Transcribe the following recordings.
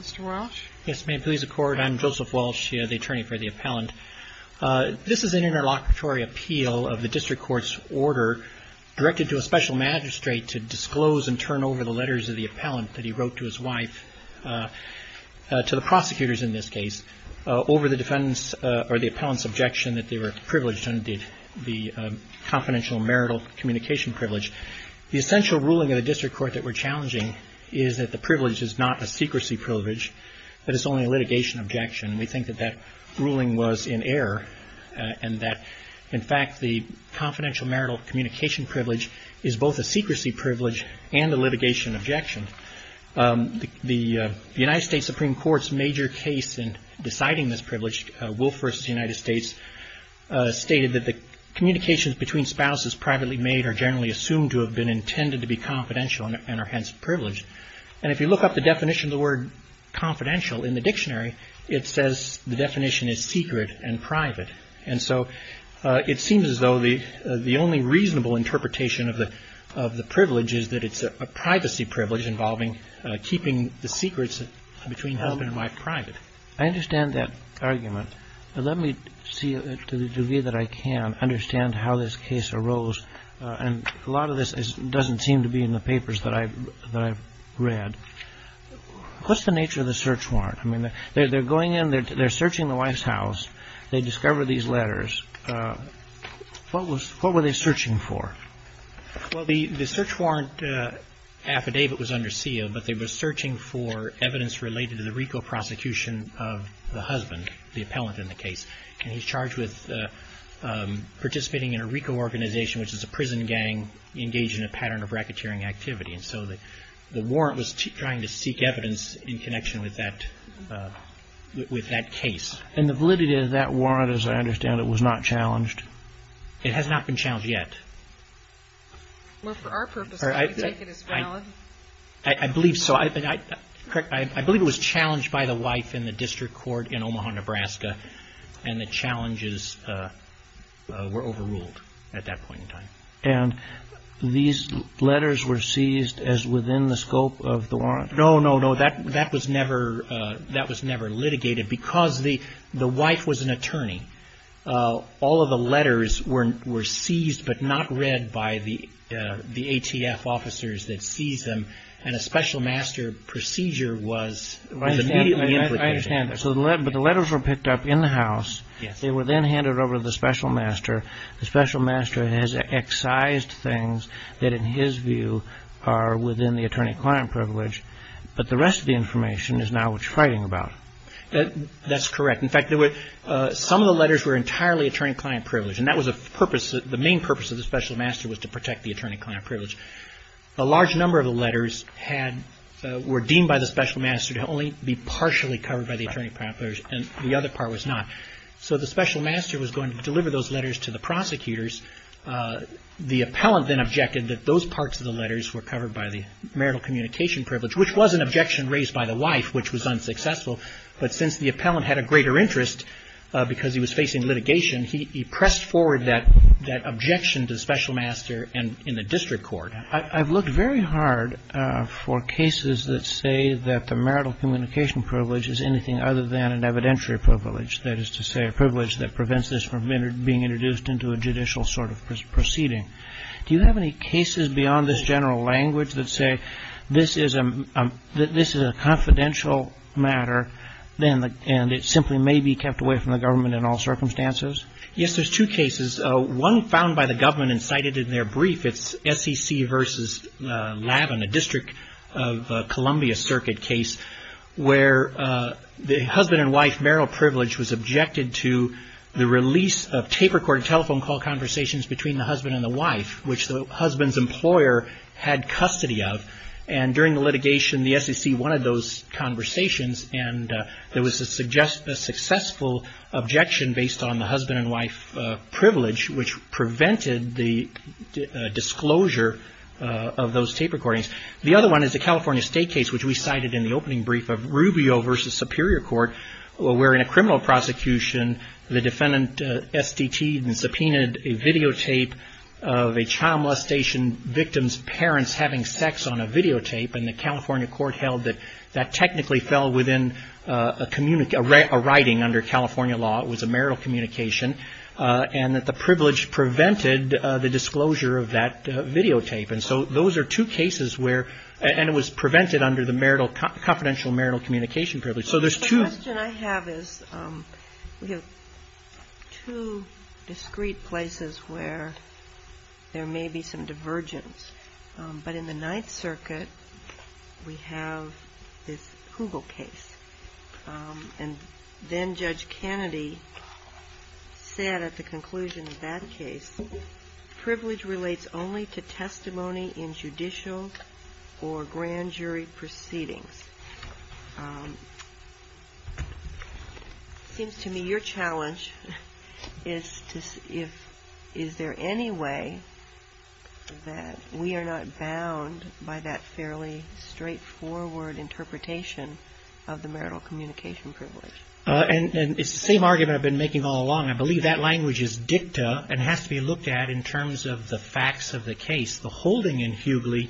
Mr. Walsh. Yes, ma'am. Please accord. I'm Joseph Walsh, the attorney for the appellant. This is an interlocutory appeal of the district court's order directed to a special magistrate to disclose and turn over the letters of the appellant that he wrote to his wife, to the prosecutors in this case, over the defendant's or the appellant's objection that they were privileged under the confidential marital communication privilege. The essential ruling of the district court that we're challenging is that the privilege is not a secrecy privilege, that it's only a litigation objection. We think that that ruling was in error and that, in fact, the confidential marital communication privilege is both a secrecy privilege and a litigation objection. The United States Supreme Court's major case in deciding this privilege, Wolf v. United States, stated that the communications between spouses privately made are generally assumed to have been intended to be confidential and are hence privileged. And if you look up the definition of the word confidential in the dictionary, it says the definition is secret and private. And so it seems as though the only reasonable interpretation of the privilege is that it's a privacy privilege involving keeping the secrets between husband and wife private. I understand that argument. Let me see to the degree that I can understand how this doesn't seem to be in the papers that I've read. What's the nature of the search warrant? I mean, they're going in, they're searching the wife's house, they discover these letters. What were they searching for? Well, the search warrant affidavit was under seal, but they were searching for evidence related to the RICO prosecution of the husband, the appellant in the case. And he's charged with participating in a RICO organization, which is a prison gang engaged in a pattern of racketeering activity. And so the warrant was trying to seek evidence in connection with that case. And the validity of that warrant, as I understand it, was not challenged? It has not been challenged yet. Well, for our purposes, we take it as valid. I believe so. I believe it was challenged by the wife in the district court in Omaha, Nebraska, and the challenges were overruled at that point in time. And these letters were seized as within the scope of the warrant? No, no, no. That was never litigated because the wife was an attorney. All of the letters were seized, but not read by the ATF officers that seized them. And a special master procedure was immediately implicated. I understand that. But the letters were picked up in the house. They were then handed over to the special master. The special master has excised things that in his view are within the attorney-client privilege. But the rest of the information is now what you're fighting about. That's correct. In fact, some of the letters were entirely attorney-client privilege. And that was the purpose. The main purpose of the special master was to protect the attorney-client privilege. A large number of the letters were deemed by the special master to only be partially covered by the attorney-client privilege, and the other part was not. So the special master was going to deliver those letters to the prosecutors. The appellant then objected that those parts of the letters were covered by the marital communication privilege, which was an objection raised by the wife, which was unsuccessful. But since the appellant had a greater interest because he was facing litigation, he pressed forward that objection to the special master and in the district court. I've looked very hard for cases that say that the marital communication privilege is anything other than an evidentiary privilege, that is to say, a privilege that prevents this from being introduced into a judicial sort of proceeding. Do you have any cases beyond this general language that say this is a confidential matter and it simply may be kept away from the government in all circumstances? Yes, there's two cases. One found by the government and cited in their brief. It's SEC v. Lavin, a District of Columbia Circuit case, where the husband and wife marital privilege was objected to the release of tape-recorded telephone call conversations between the husband and the wife, which the husband's employer had custody of. And during the litigation, the SEC wanted those conversations, and there was a successful objection based on the husband and wife privilege, which prevented the disclosure of those tape recordings. The other one is the California State case, which we cited in the opening brief of Rubio v. Superior Court, where in a criminal prosecution, the defendant SDT'd and subpoenaed a videotape of a child molestation victim's parents having sex on a videotape, and the California court held that that technically fell within a writing under California law. It was a marital communication, and that the privilege prevented the disclosure of that videotape. And so those are two cases where, and it was prevented under the confidential marital communication privilege. The question I have is, we have two discrete places where there may be some divergence, but in the Ninth Circuit, we have this Hoogle case. And then Judge Kennedy said at the conclusion of that case, privilege relates only to testimony in judicial or grand jury proceedings. It seems to me your challenge is to see if, is there any way that we are not bound by that fairly straightforward interpretation of the marital communication privilege? And it's the same argument I've been making all along. I believe that language is dicta and has to be looked at in terms of the facts of the case. The holding in Hoogle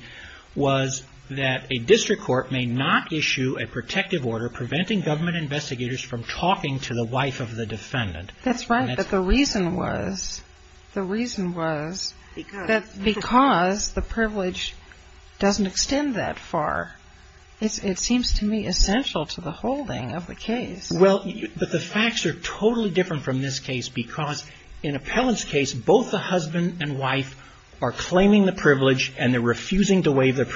was that a district court may not issue a protective order preventing government investigators from talking to the wife of the defendant. That's right, but the reason was, the reason was that because the privilege doesn't extend that far, it seems to me essential to the holding of the case. Well, but the facts are totally different from this case because in Appellant's case, both the husband and wife are claiming the privilege and they're refusing to waive the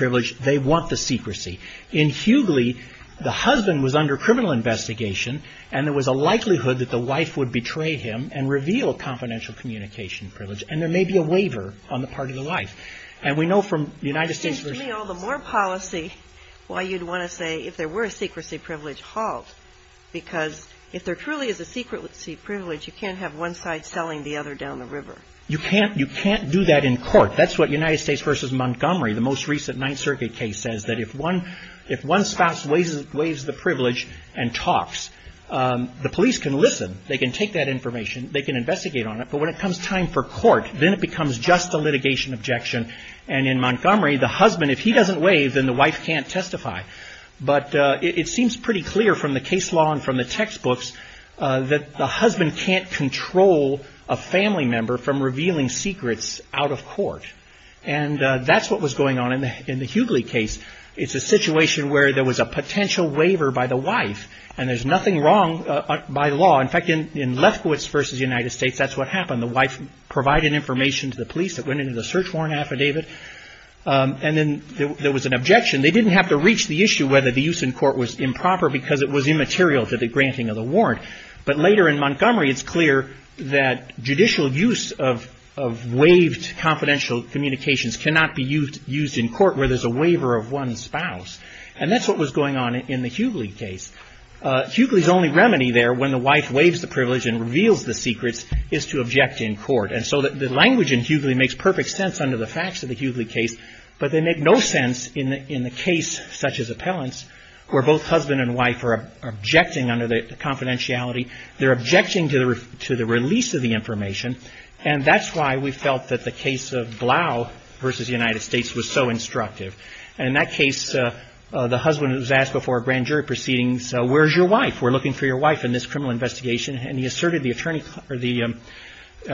secrecy. In Hughley, the husband was under criminal investigation and there was a likelihood that the wife would betray him and reveal confidential communication privilege. And there may be a waiver on the part of the wife. And we know from the United States version of this case… Well, it seems to me all the more policy why you'd want to say if there were a secrecy privilege, halt, because if there truly is a secrecy privilege, you can't have one side selling the other down the river. You can't, you can't do that in court. That's what United States v. Montgomery, the most recent Ninth Circuit case, says that if one spouse waives the privilege and talks, the police can listen. They can take that information. They can investigate on it. But when it comes time for court, then it becomes just a litigation objection. And in Montgomery, the husband, if he doesn't waive, then the wife can't testify. But it seems pretty clear from the case law and from the textbooks that the husband can't control a family member from revealing secrets out of court. And that's what was going on in the Hughley case. It's a situation where there was a potential waiver by the wife. And there's nothing wrong by law. In fact, in Lefkowitz v. United States, that's what happened. The wife provided information to the police that went into the search warrant affidavit. And then there was an objection. They didn't have to reach the issue whether the use in court was improper because it was immaterial to the granting of the warrant. But later in Montgomery, it's clear that judicial use of waived confidential communications cannot be used in court where there's a waiver of one's spouse. And that's what was going on in the Hughley case. Hughley's only remedy there when the wife waives the privilege and reveals the secrets is to object in court. And so the language in Hughley makes perfect sense under the facts of the Hughley case. But they make no sense in the case such as appellants, where both husband and wife are objecting under the confidentiality. They're objecting to the release of the information. And that's why we felt that the case of Blau v. United States was so instructive. And in that case, the husband was asked before a grand jury proceedings, where's your wife? We're looking for your wife in this criminal investigation. And he asserted the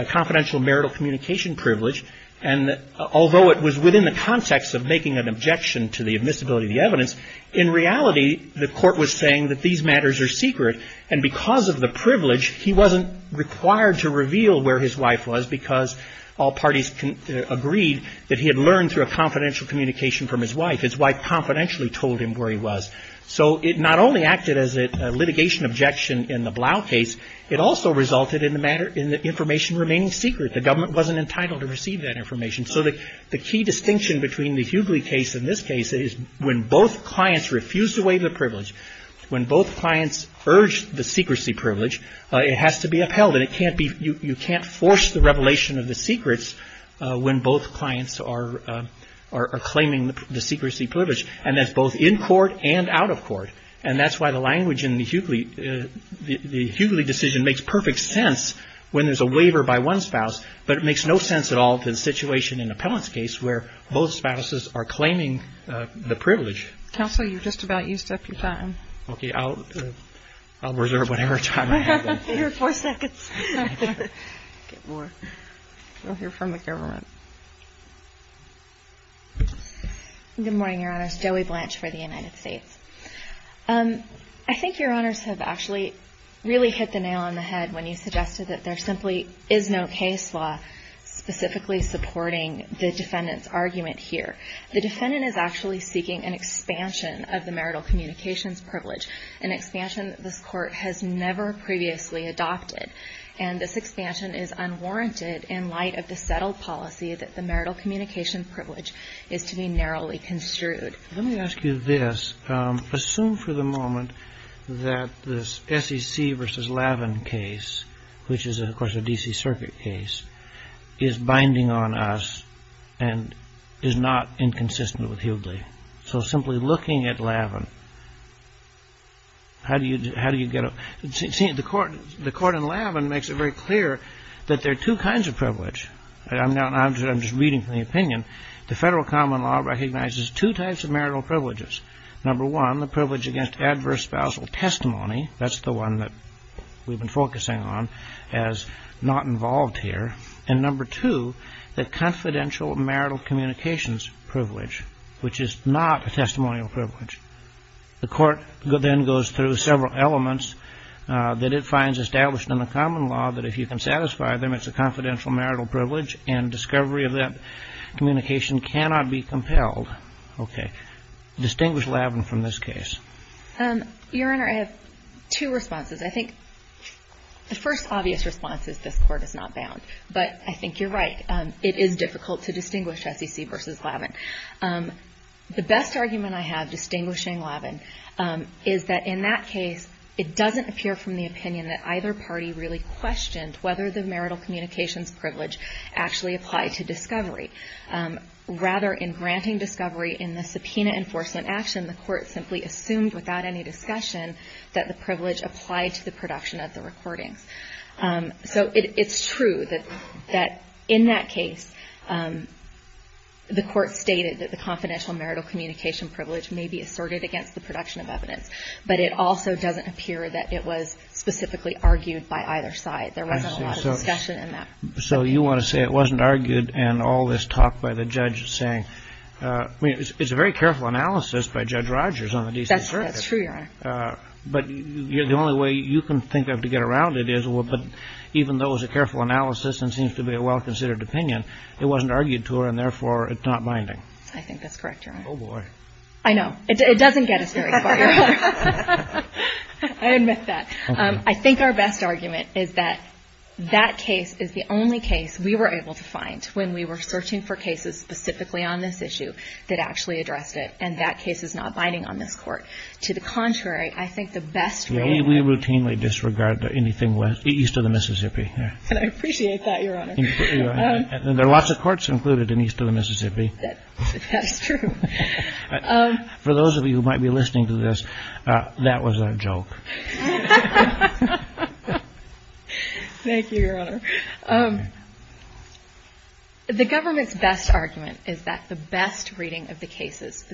confidential marital communication privilege. And although it was within the context of making an objection to the admissibility of the evidence, in reality, the court was saying that these matters are secret. And because of the privilege, he wasn't required to reveal where his wife was because all parties agreed that he had learned through a confidential communication from his wife. His wife confidentially told him where he was. So it not only acted as a litigation objection in the Blau case, it also resulted in the matter – in the information remaining secret. The government wasn't entitled to receive that information. So the key distinction between the Hughley case and this case is when both clients refused to waive the privilege, when both clients urged the secrecy privilege, it has to be upheld. And it can't be – you can't force the revelation of the secrets when both clients are claiming the secrecy privilege. And that's both in court and out of court. And that's why the language in the Hughley – the Hughley decision makes perfect sense when there's a waiver by one spouse, but it makes no sense at all to the situation in Appellant's case where both spouses are claiming the privilege. Counsel, you're just about used up your time. Okay, I'll reserve whatever time I have. You have four seconds. We'll hear from the government. Good morning, Your Honors. Joey Blanche for the United States. I think Your Honors have actually really hit the nail on the head when you suggested that there simply is no case law specifically supporting the defendant's argument here. The defendant is actually seeking an expansion of the marital communications privilege, an expansion that this Court has never previously adopted. And this expansion is unwarranted in light of the settled policy that the marital communication privilege is to be narrowly construed. Let me ask you this. Assume for the moment that this SEC v. Lavin case, which is, of course, a D.C. Circuit case, is binding on us and is not inconsistent with Hughley. So simply looking at Lavin, how do you get a – see, the court in Lavin makes it very clear that there are two kinds of privilege. I'm just reading from the opinion. The federal common law recognizes two types of marital privileges. Number one, the privilege against adverse spousal testimony. That's the one that we've been focusing on as not involved here. And number two, the confidential marital communications privilege, which is not a testimonial privilege. The court then goes through several elements that it finds established in the common law that if you can satisfy them, it's a confidential marital privilege. And discovery of that communication cannot be compelled. Okay. Distinguish Lavin from this case. Your Honor, I have two responses. I think the first obvious response is this court is not bound. But I think you're right. It is difficult to distinguish SEC v. Lavin. The best argument I have distinguishing Lavin is that in that case, it doesn't appear from the opinion that either party really questioned whether the marital communications privilege actually applied to discovery. Rather, in granting discovery in the subpoena enforcement action, the court simply assumed without any discussion that the privilege applied to the production of the recordings. So it's true that in that case, the court stated that the confidential marital communication privilege may be asserted against the production of evidence. But it also doesn't appear that it was specifically argued by either side. There wasn't a lot of discussion in that. So you want to say it wasn't argued and all this talk by the judge saying, I mean, it's a very careful analysis by Judge Rogers on the decent verdict. That's true, Your Honor. But the only way you can think of to get around it is, well, but even though it was a careful analysis and seems to be a well-considered opinion, it wasn't argued to her and therefore it's not binding. I think that's correct, Your Honor. Oh, boy. I know. It doesn't get us very far. I admit that. I think our best argument is that that case is the only case we were able to find when we were searching for cases specifically on this issue that actually addressed it. And that case is not binding on this court. To the contrary, I think the best. We routinely disregard anything west east of the Mississippi. I appreciate that, Your Honor. There are lots of courts included in east of the Mississippi. That's true. For those of you who might be listening to this, that was a joke. Thank you, Your Honor. The government's best argument is that the best reading of the cases,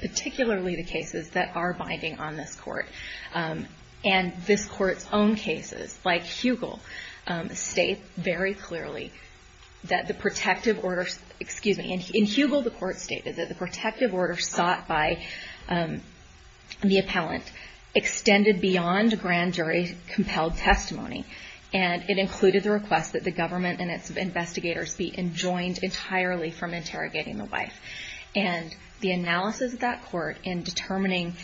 particularly the cases that are binding on this court, and this court's own cases, like Hugel, state very clearly that the protective order, excuse me, in Hugel the court stated that the protective order sought by the appellant extended beyond grand jury compelled testimony. And it included the request that the government and its investigators be enjoined entirely from interrogating the wife. And the analysis of that court in determining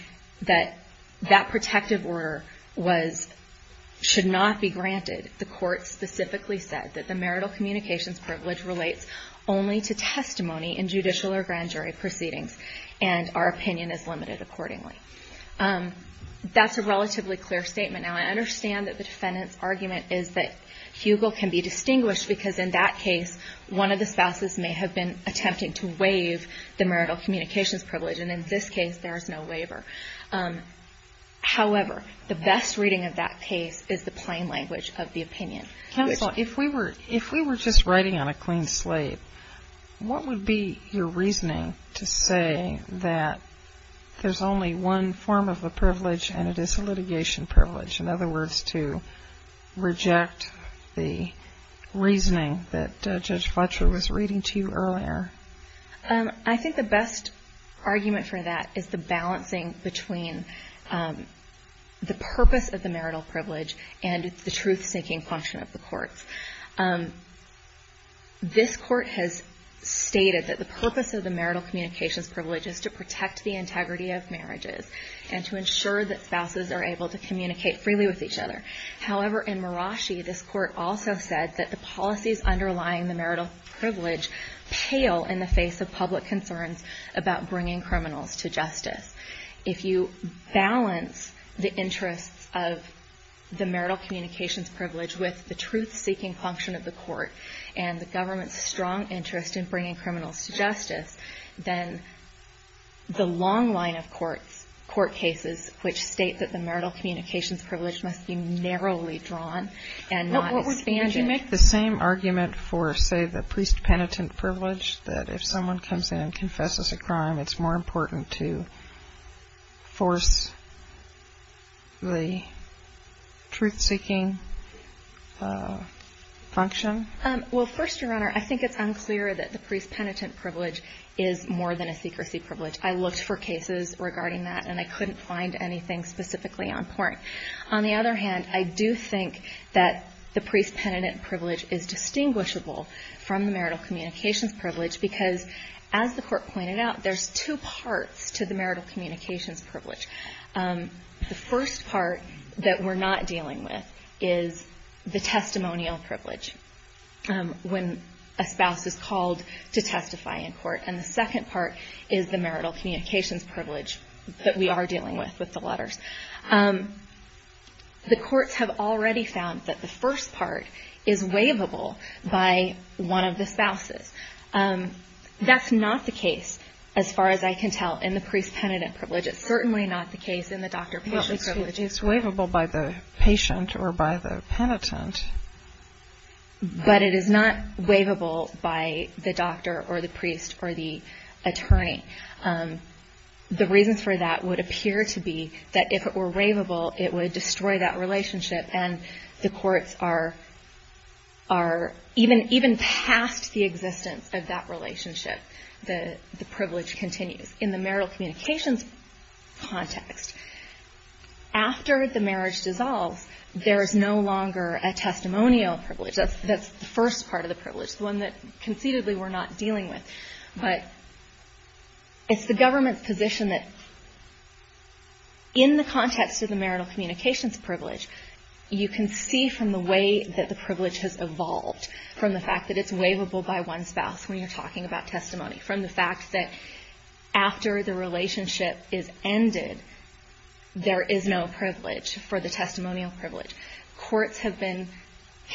that that protective order should not be granted, the court specifically said that the marital communications privilege relates only to testimony in judicial or grand jury proceedings, and our opinion is limited accordingly. That's a relatively clear statement. Now, I understand that the defendant's argument is that Hugel can be distinguished because in that case one of the spouses may have been attempting to waive the marital communications privilege, and in this case there is no waiver. However, the best reading of that case is the plain language of the opinion. Counsel, if we were just writing on a clean slate, what would be your reasoning to say that there's only one form of a privilege and it is a litigation privilege, in other words, to reject the reasoning that Judge Fletcher was reading to you earlier? I think the best argument for that is the balancing between the purpose of the marital privilege and the truth-seeking function of the courts. This court has stated that the purpose of the marital communications privilege is to protect the integrity of marriages and to ensure that spouses are able to communicate freely with each other. However, in Marashi, this court also said that the policies underlying the marital privilege pale in the face of public concerns about bringing criminals to justice. If you balance the interests of the marital communications privilege with the truth-seeking function of the court and the government's strong interest in bringing criminals to justice, then the long line of court cases which state that the marital communications privilege must be narrowly drawn and not expanded. Would you make the same argument for, say, the priest-penitent privilege, that if someone comes in and confesses a crime, it's more important to force the truth-seeking function? Well, first, Your Honor, I think it's unclear that the priest-penitent privilege is more than a secrecy privilege. I looked for cases regarding that, and I couldn't find anything specifically on point. On the other hand, I do think that the priest-penitent privilege is distinguishable from the marital communications privilege because, as the Court pointed out, there's two parts to the marital communications privilege. The first part that we're not dealing with is the testimonial privilege when a spouse is called to testify in court, and the second part is the marital communications privilege that we are dealing with with the letters. The courts have already found that the first part is waivable by one of the spouses. That's not the case, as far as I can tell, in the priest-penitent privilege. It's certainly not the case in the doctor-patient privilege. Well, it's waivable by the patient or by the penitent. But it is not waivable by the doctor or the priest or the attorney. The reasons for that would appear to be that if it were waivable, it would destroy that relationship, and the courts are even past the existence of that relationship. The privilege continues. In the marital communications context, after the marriage dissolves, there is no longer a testimonial privilege. That's the first part of the privilege, the one that conceitedly we're not dealing with. But it's the government's position that, in the context of the marital communications privilege, you can see from the way that the privilege has evolved, from the fact that it's waivable by one spouse when you're talking about testimony, from the fact that after the relationship is ended, there is no privilege for the testimonial privilege. Courts have been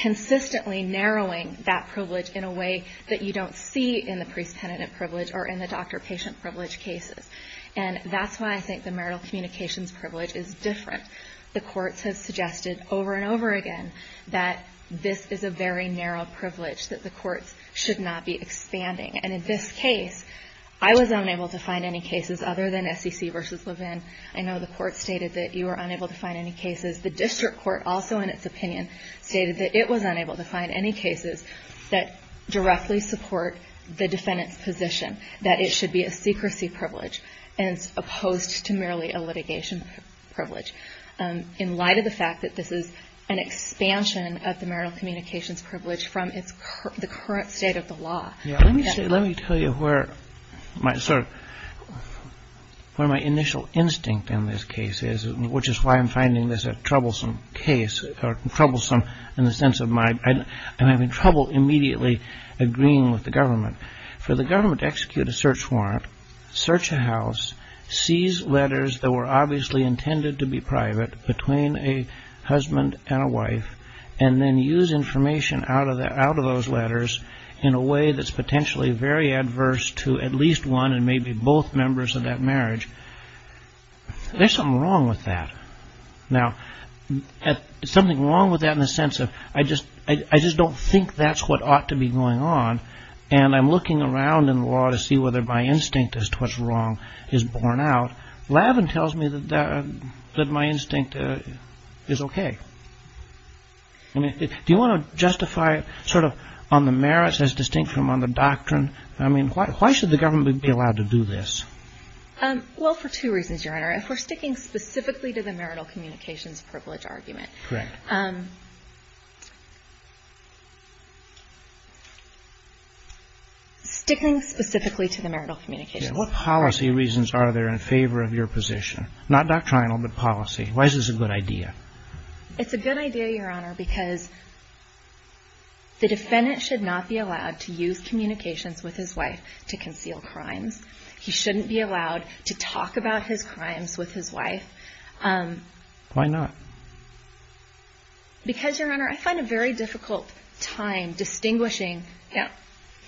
consistently narrowing that privilege in a way that you don't see in the priest-penitent privilege or in the doctor-patient privilege cases. And that's why I think the marital communications privilege is different. The courts have suggested over and over again that this is a very narrow privilege, that the courts should not be expanding. And in this case, I was unable to find any cases other than SEC v. Levin. I know the court stated that you were unable to find any cases. The district court also, in its opinion, stated that it was unable to find any cases that directly support the defendant's position, that it should be a secrecy privilege as opposed to merely a litigation privilege. In light of the fact that this is an expansion of the marital communications privilege from the current state of the law. Let me tell you where my initial instinct in this case is, which is why I'm finding this a troublesome case, or troublesome in the sense of I'm having trouble immediately agreeing with the government. For the government to execute a search warrant, search a house, seize letters that were obviously intended to be private between a husband and a wife, and then use information out of those letters in a way that's potentially very adverse to at least one and maybe both members of that marriage. There's something wrong with that. Now, something wrong with that in the sense of I just don't think that's what ought to be going on, and I'm looking around in the law to see whether my instinct as to what's wrong is borne out. Levin tells me that my instinct is okay. Do you want to justify sort of on the merits as distinct from on the doctrine? I mean, why should the government be allowed to do this? Well, for two reasons, Your Honor. If we're sticking specifically to the marital communications privilege argument. Correct. Sticking specifically to the marital communications. What policy reasons are there in favor of your position? Not doctrinal, but policy. Why is this a good idea? It's a good idea, Your Honor, because the defendant should not be allowed to use communications with his wife to conceal crimes. He shouldn't be allowed to talk about his crimes with his wife. Why not? Because, Your Honor, I find a very difficult time distinguishing. Yeah.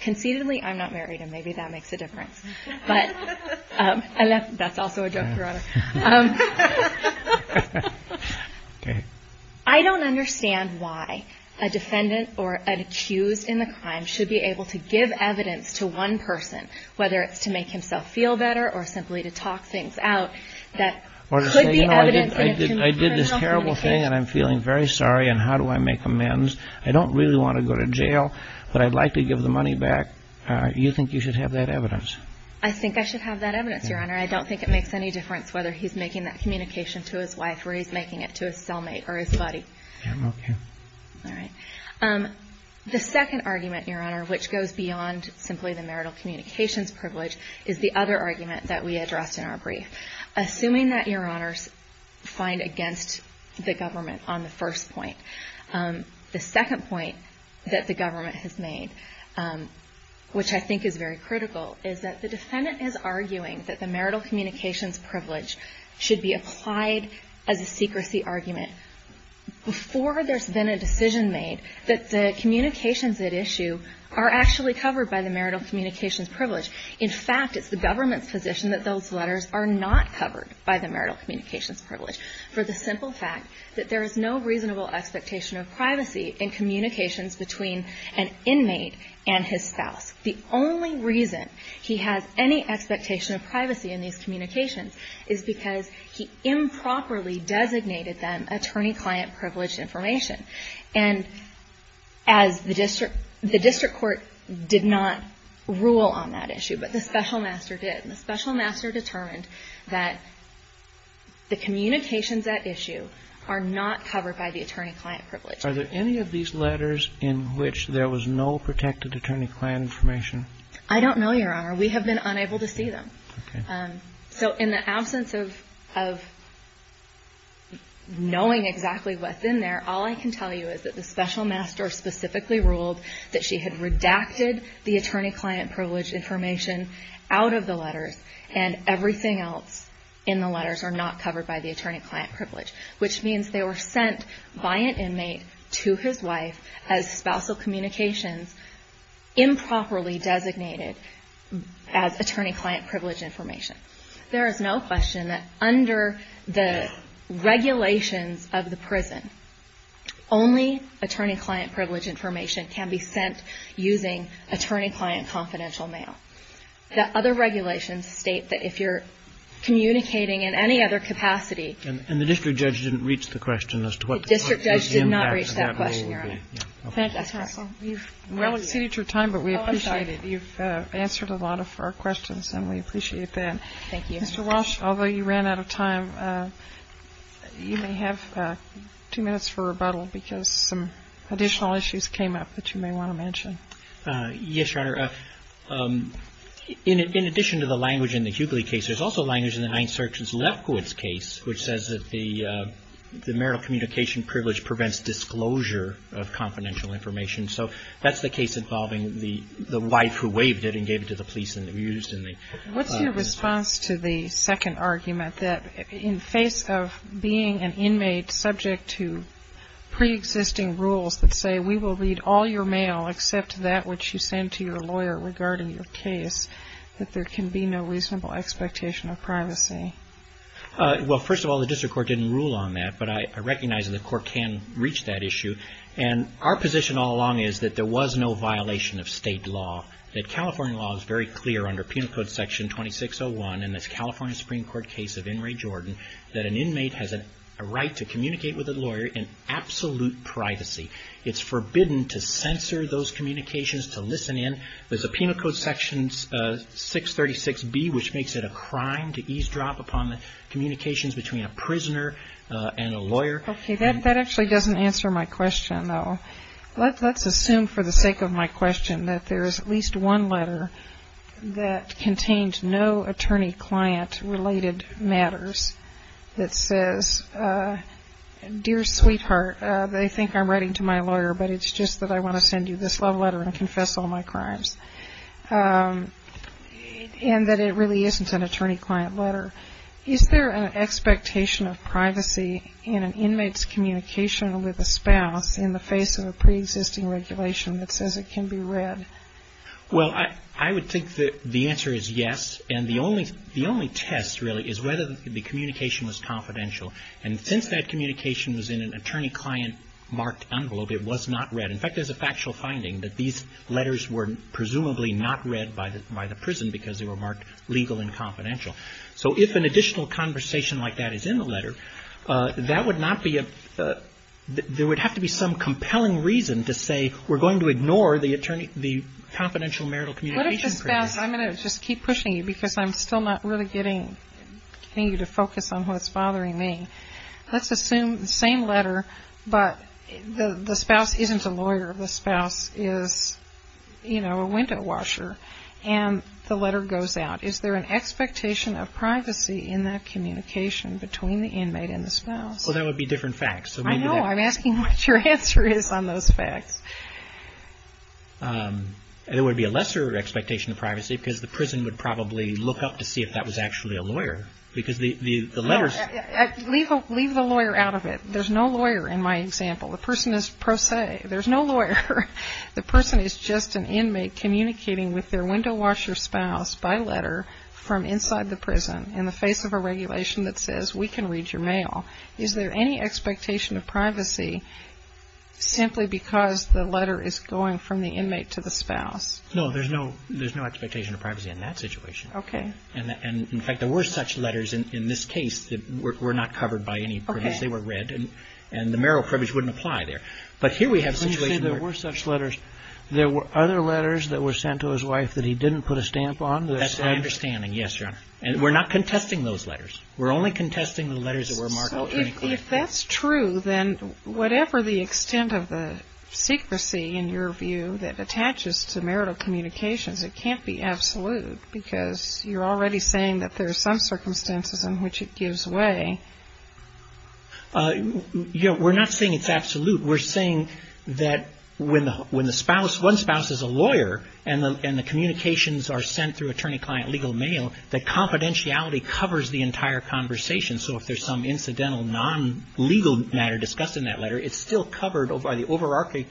Conceitedly, I'm not married, and maybe that makes a difference. But that's also a joke, Your Honor. I don't understand why a defendant or an accused in the crime should be able to give evidence to one person, whether it's to make himself feel better or simply to talk things out. Or to say, you know, I did this terrible thing, and I'm feeling very sorry, and how do I make amends? I don't really want to go to jail, but I'd like to give the money back. You think you should have that evidence? I think I should have that evidence, Your Honor. I don't think it makes any difference whether he's making that communication to his wife or he's making it to his cellmate or his buddy. Okay. All right. The second argument, Your Honor, which goes beyond simply the marital communications privilege, is the other argument that we addressed in our brief. Assuming that, Your Honors, find against the government on the first point. The second point that the government has made, which I think is very critical, is that the defendant is arguing that the marital communications privilege should be applied as a secrecy argument before there's been a decision made that the communications at issue are actually covered by the marital communications privilege. In fact, it's the government's position that those letters are not covered by the marital communications privilege for the simple fact that there is no reasonable expectation of privacy in communications between an inmate and his spouse. The only reason he has any expectation of privacy in these communications is because he improperly designated them attorney-client privileged information. And as the district court did not rule on that issue, but the special master did. And the special master determined that the communications at issue are not covered by the attorney-client privilege. Are there any of these letters in which there was no protected attorney-client information? I don't know, Your Honor. We have been unable to see them. Okay. So in the absence of knowing exactly what's in there, all I can tell you is that the special master specifically ruled that she had redacted the attorney-client privilege information out of the letters and everything else in the letters are not covered by the attorney-client privilege, which means they were sent by an inmate to his wife as spousal communications improperly designated as attorney-client privileged information. There is no question that under the regulations of the prison, only attorney-client privileged information can be sent using attorney-client confidential mail. The other regulations state that if you're communicating in any other capacity And the district judge didn't reach the question as to what the impact of that rule would be. Well, we've exceeded your time, but we appreciate it. You've answered a lot of our questions and we appreciate that. Mr. Walsh, although you ran out of time, you may have two minutes for rebuttal because some additional issues came up that you may want to mention. Yes, Your Honor. In addition to the language in the Hughley case, there's also language in the Ninth Circuit's Lefkowitz case, which says that the marital communication privilege prevents disclosure of confidential information. So that's the case involving the wife who waived it and gave it to the police and abused. What's your response to the second argument that in face of being an inmate subject to pre-existing rules that say, we will read all your mail except that which you send to your lawyer regarding your case, Well, first of all, the district court didn't rule on that, but I recognize that the court can reach that issue. And our position all along is that there was no violation of state law, that California law is very clear under Penal Code Section 2601 in this California Supreme Court case of In re Jordan, that an inmate has a right to communicate with a lawyer in absolute privacy. It's forbidden to censor those communications, to listen in. There's a Penal Code Section 636B, which makes it a crime to eavesdrop upon the communications between a prisoner and a lawyer. That actually doesn't answer my question, though. Let's assume for the sake of my question that there is at least one letter that contains no attorney-client related matters that says, dear sweetheart, they think I'm writing to my lawyer, but it's just that I want to send you this love letter and confess all my crimes, and that it really isn't an attorney-client letter. Is there an expectation of privacy in an inmate's communication with a spouse in the face of a preexisting regulation that says it can be read? Well, I would think that the answer is yes. And the only test, really, is whether the communication was confidential. And since that communication was in an attorney-client marked envelope, it was not read. In fact, there's a factual finding that these letters were presumably not read by the prison because they were marked legal and confidential. So if an additional conversation like that is in the letter, that would not be a – there would have to be some compelling reason to say we're going to ignore the confidential marital communication. I'm going to just keep pushing you because I'm still not really getting you to focus on what's bothering me. Let's assume the same letter, but the spouse isn't a lawyer. The spouse is, you know, a window washer, and the letter goes out. Is there an expectation of privacy in that communication between the inmate and the spouse? Well, that would be different facts. I know. I'm asking what your answer is on those facts. There would be a lesser expectation of privacy because the prison would probably look up to see if that was actually a lawyer Leave the lawyer out of it. There's no lawyer in my example. The person is pro se. There's no lawyer. The person is just an inmate communicating with their window washer spouse by letter from inside the prison in the face of a regulation that says we can read your mail. Is there any expectation of privacy simply because the letter is going from the inmate to the spouse? No, there's no expectation of privacy in that situation. Okay. And, in fact, there were such letters in this case that were not covered by any privilege. They were read, and the marital privilege wouldn't apply there. But here we have a situation where Didn't you say there were such letters? There were other letters that were sent to his wife that he didn't put a stamp on? That's my understanding, yes, Your Honor. And we're not contesting those letters. We're only contesting the letters that were marked alternatively. So if that's true, then whatever the extent of the secrecy, in your view, that attaches to marital communications, it can't be absolute because you're already saying that there are some circumstances in which it gives way. We're not saying it's absolute. We're saying that when one spouse is a lawyer and the communications are sent through attorney-client legal mail, that confidentiality covers the entire conversation. So if there's some incidental non-legal matter discussed in that letter, it's still covered by the overarching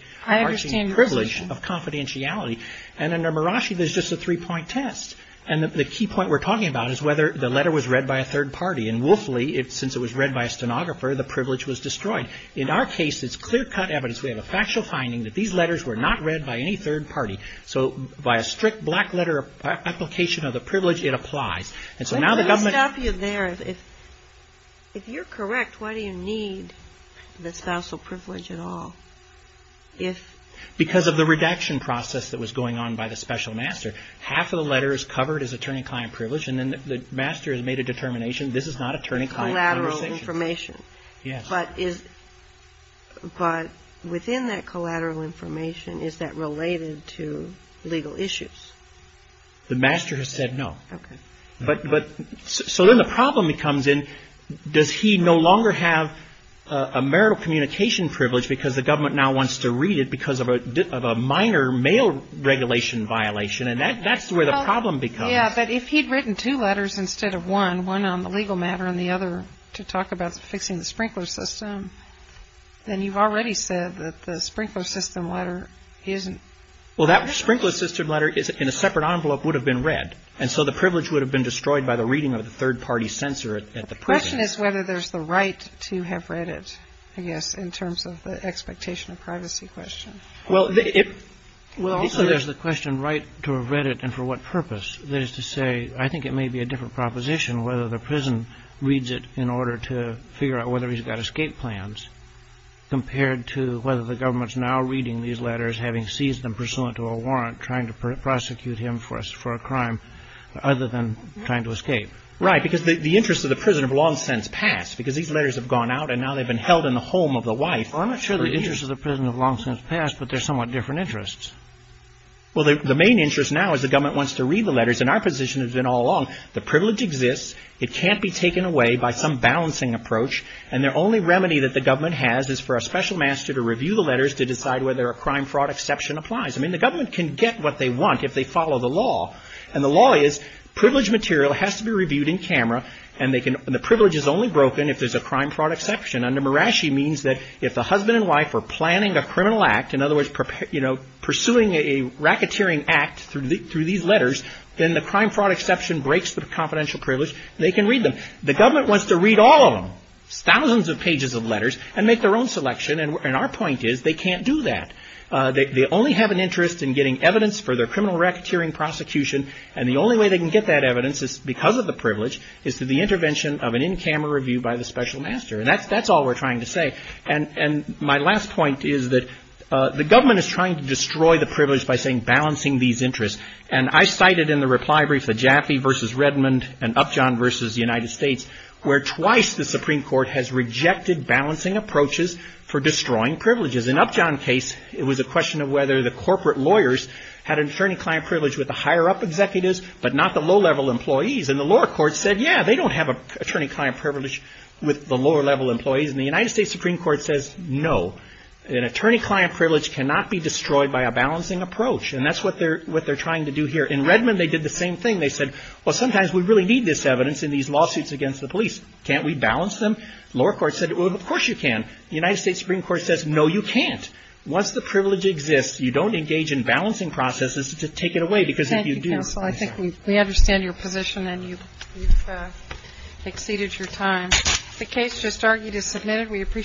privilege of confidentiality. And under Murashi, there's just a three-point test. And the key point we're talking about is whether the letter was read by a third party. And woefully, since it was read by a stenographer, the privilege was destroyed. In our case, it's clear-cut evidence. We have a factual finding that these letters were not read by any third party. So by a strict black-letter application of the privilege, it applies. And so now the government Let me stop you there. If you're correct, why do you need the spousal privilege at all? Because of the redaction process that was going on by the special master. Half of the letter is covered as attorney-client privilege, and then the master has made a determination, this is not attorney-client conversation. Collateral information. Yes. But within that collateral information, is that related to legal issues? The master has said no. Okay. So then the problem becomes, does he no longer have a marital communication privilege because the government now wants to read it because of a minor mail regulation violation? And that's where the problem becomes. Yeah, but if he'd written two letters instead of one, one on the legal matter and the other to talk about fixing the sprinkler system, then you've already said that the sprinkler system letter isn't Well, that sprinkler system letter in a separate envelope would have been read. And so the privilege would have been destroyed by the reading of the third party censor at the prison. The question is whether there's the right to have read it, I guess, in terms of the expectation of privacy question. Well, if there's the question right to have read it and for what purpose, that is to say, I think it may be a different proposition whether the prison reads it in order to figure out whether he's got escape plans compared to whether the government's now reading these letters, having seized them pursuant to a warrant, trying to prosecute him for a crime other than trying to escape. Right, because the interests of the prison have long since passed because these letters have gone out and now they've been held in the home of the wife. I'm not sure the interests of the prison have long since passed, but they're somewhat different interests. Well, the main interest now is the government wants to read the letters and our position has been all along the privilege exists. It can't be taken away by some balancing approach. And their only remedy that the government has is for a special master to review the letters to decide whether a crime fraud exception applies. I mean, the government can get what they want if they follow the law. And the law is privilege material has to be reviewed in camera and the privilege is only broken if there's a crime fraud exception. Under Murashi, it means that if the husband and wife are planning a criminal act, in other words, pursuing a racketeering act through these letters, then the crime fraud exception breaks the confidential privilege. They can read them. The government wants to read all of them, thousands of pages of letters, and make their own selection, and our point is they can't do that. They only have an interest in getting evidence for their criminal racketeering prosecution, and the only way they can get that evidence is because of the privilege, is through the intervention of an in-camera review by the special master, and that's all we're trying to say. And my last point is that the government is trying to destroy the privilege by saying balancing these interests. And I cited in the reply brief the Jaffe v. Redmond and Upjohn v. United States, where twice the Supreme Court has rejected balancing approaches for destroying privileges. In Upjohn's case, it was a question of whether the corporate lawyers had an attorney-client privilege with the higher-up executives, but not the low-level employees, and the lower courts said, yeah, they don't have an attorney-client privilege with the lower-level employees, and the United States Supreme Court says, no. An attorney-client privilege cannot be destroyed by a balancing approach, and that's what they're trying to do here. In Redmond, they did the same thing. They said, well, sometimes we really need this evidence in these lawsuits against the police. Can't we balance them? The lower courts said, well, of course you can. The United States Supreme Court says, no, you can't. Once the privilege exists, you don't engage in balancing processes to take it away, because if you do, I'm sorry. Thank you, counsel. I think we understand your position, and you've exceeded your time. The case just argued is submitted. We appreciate it.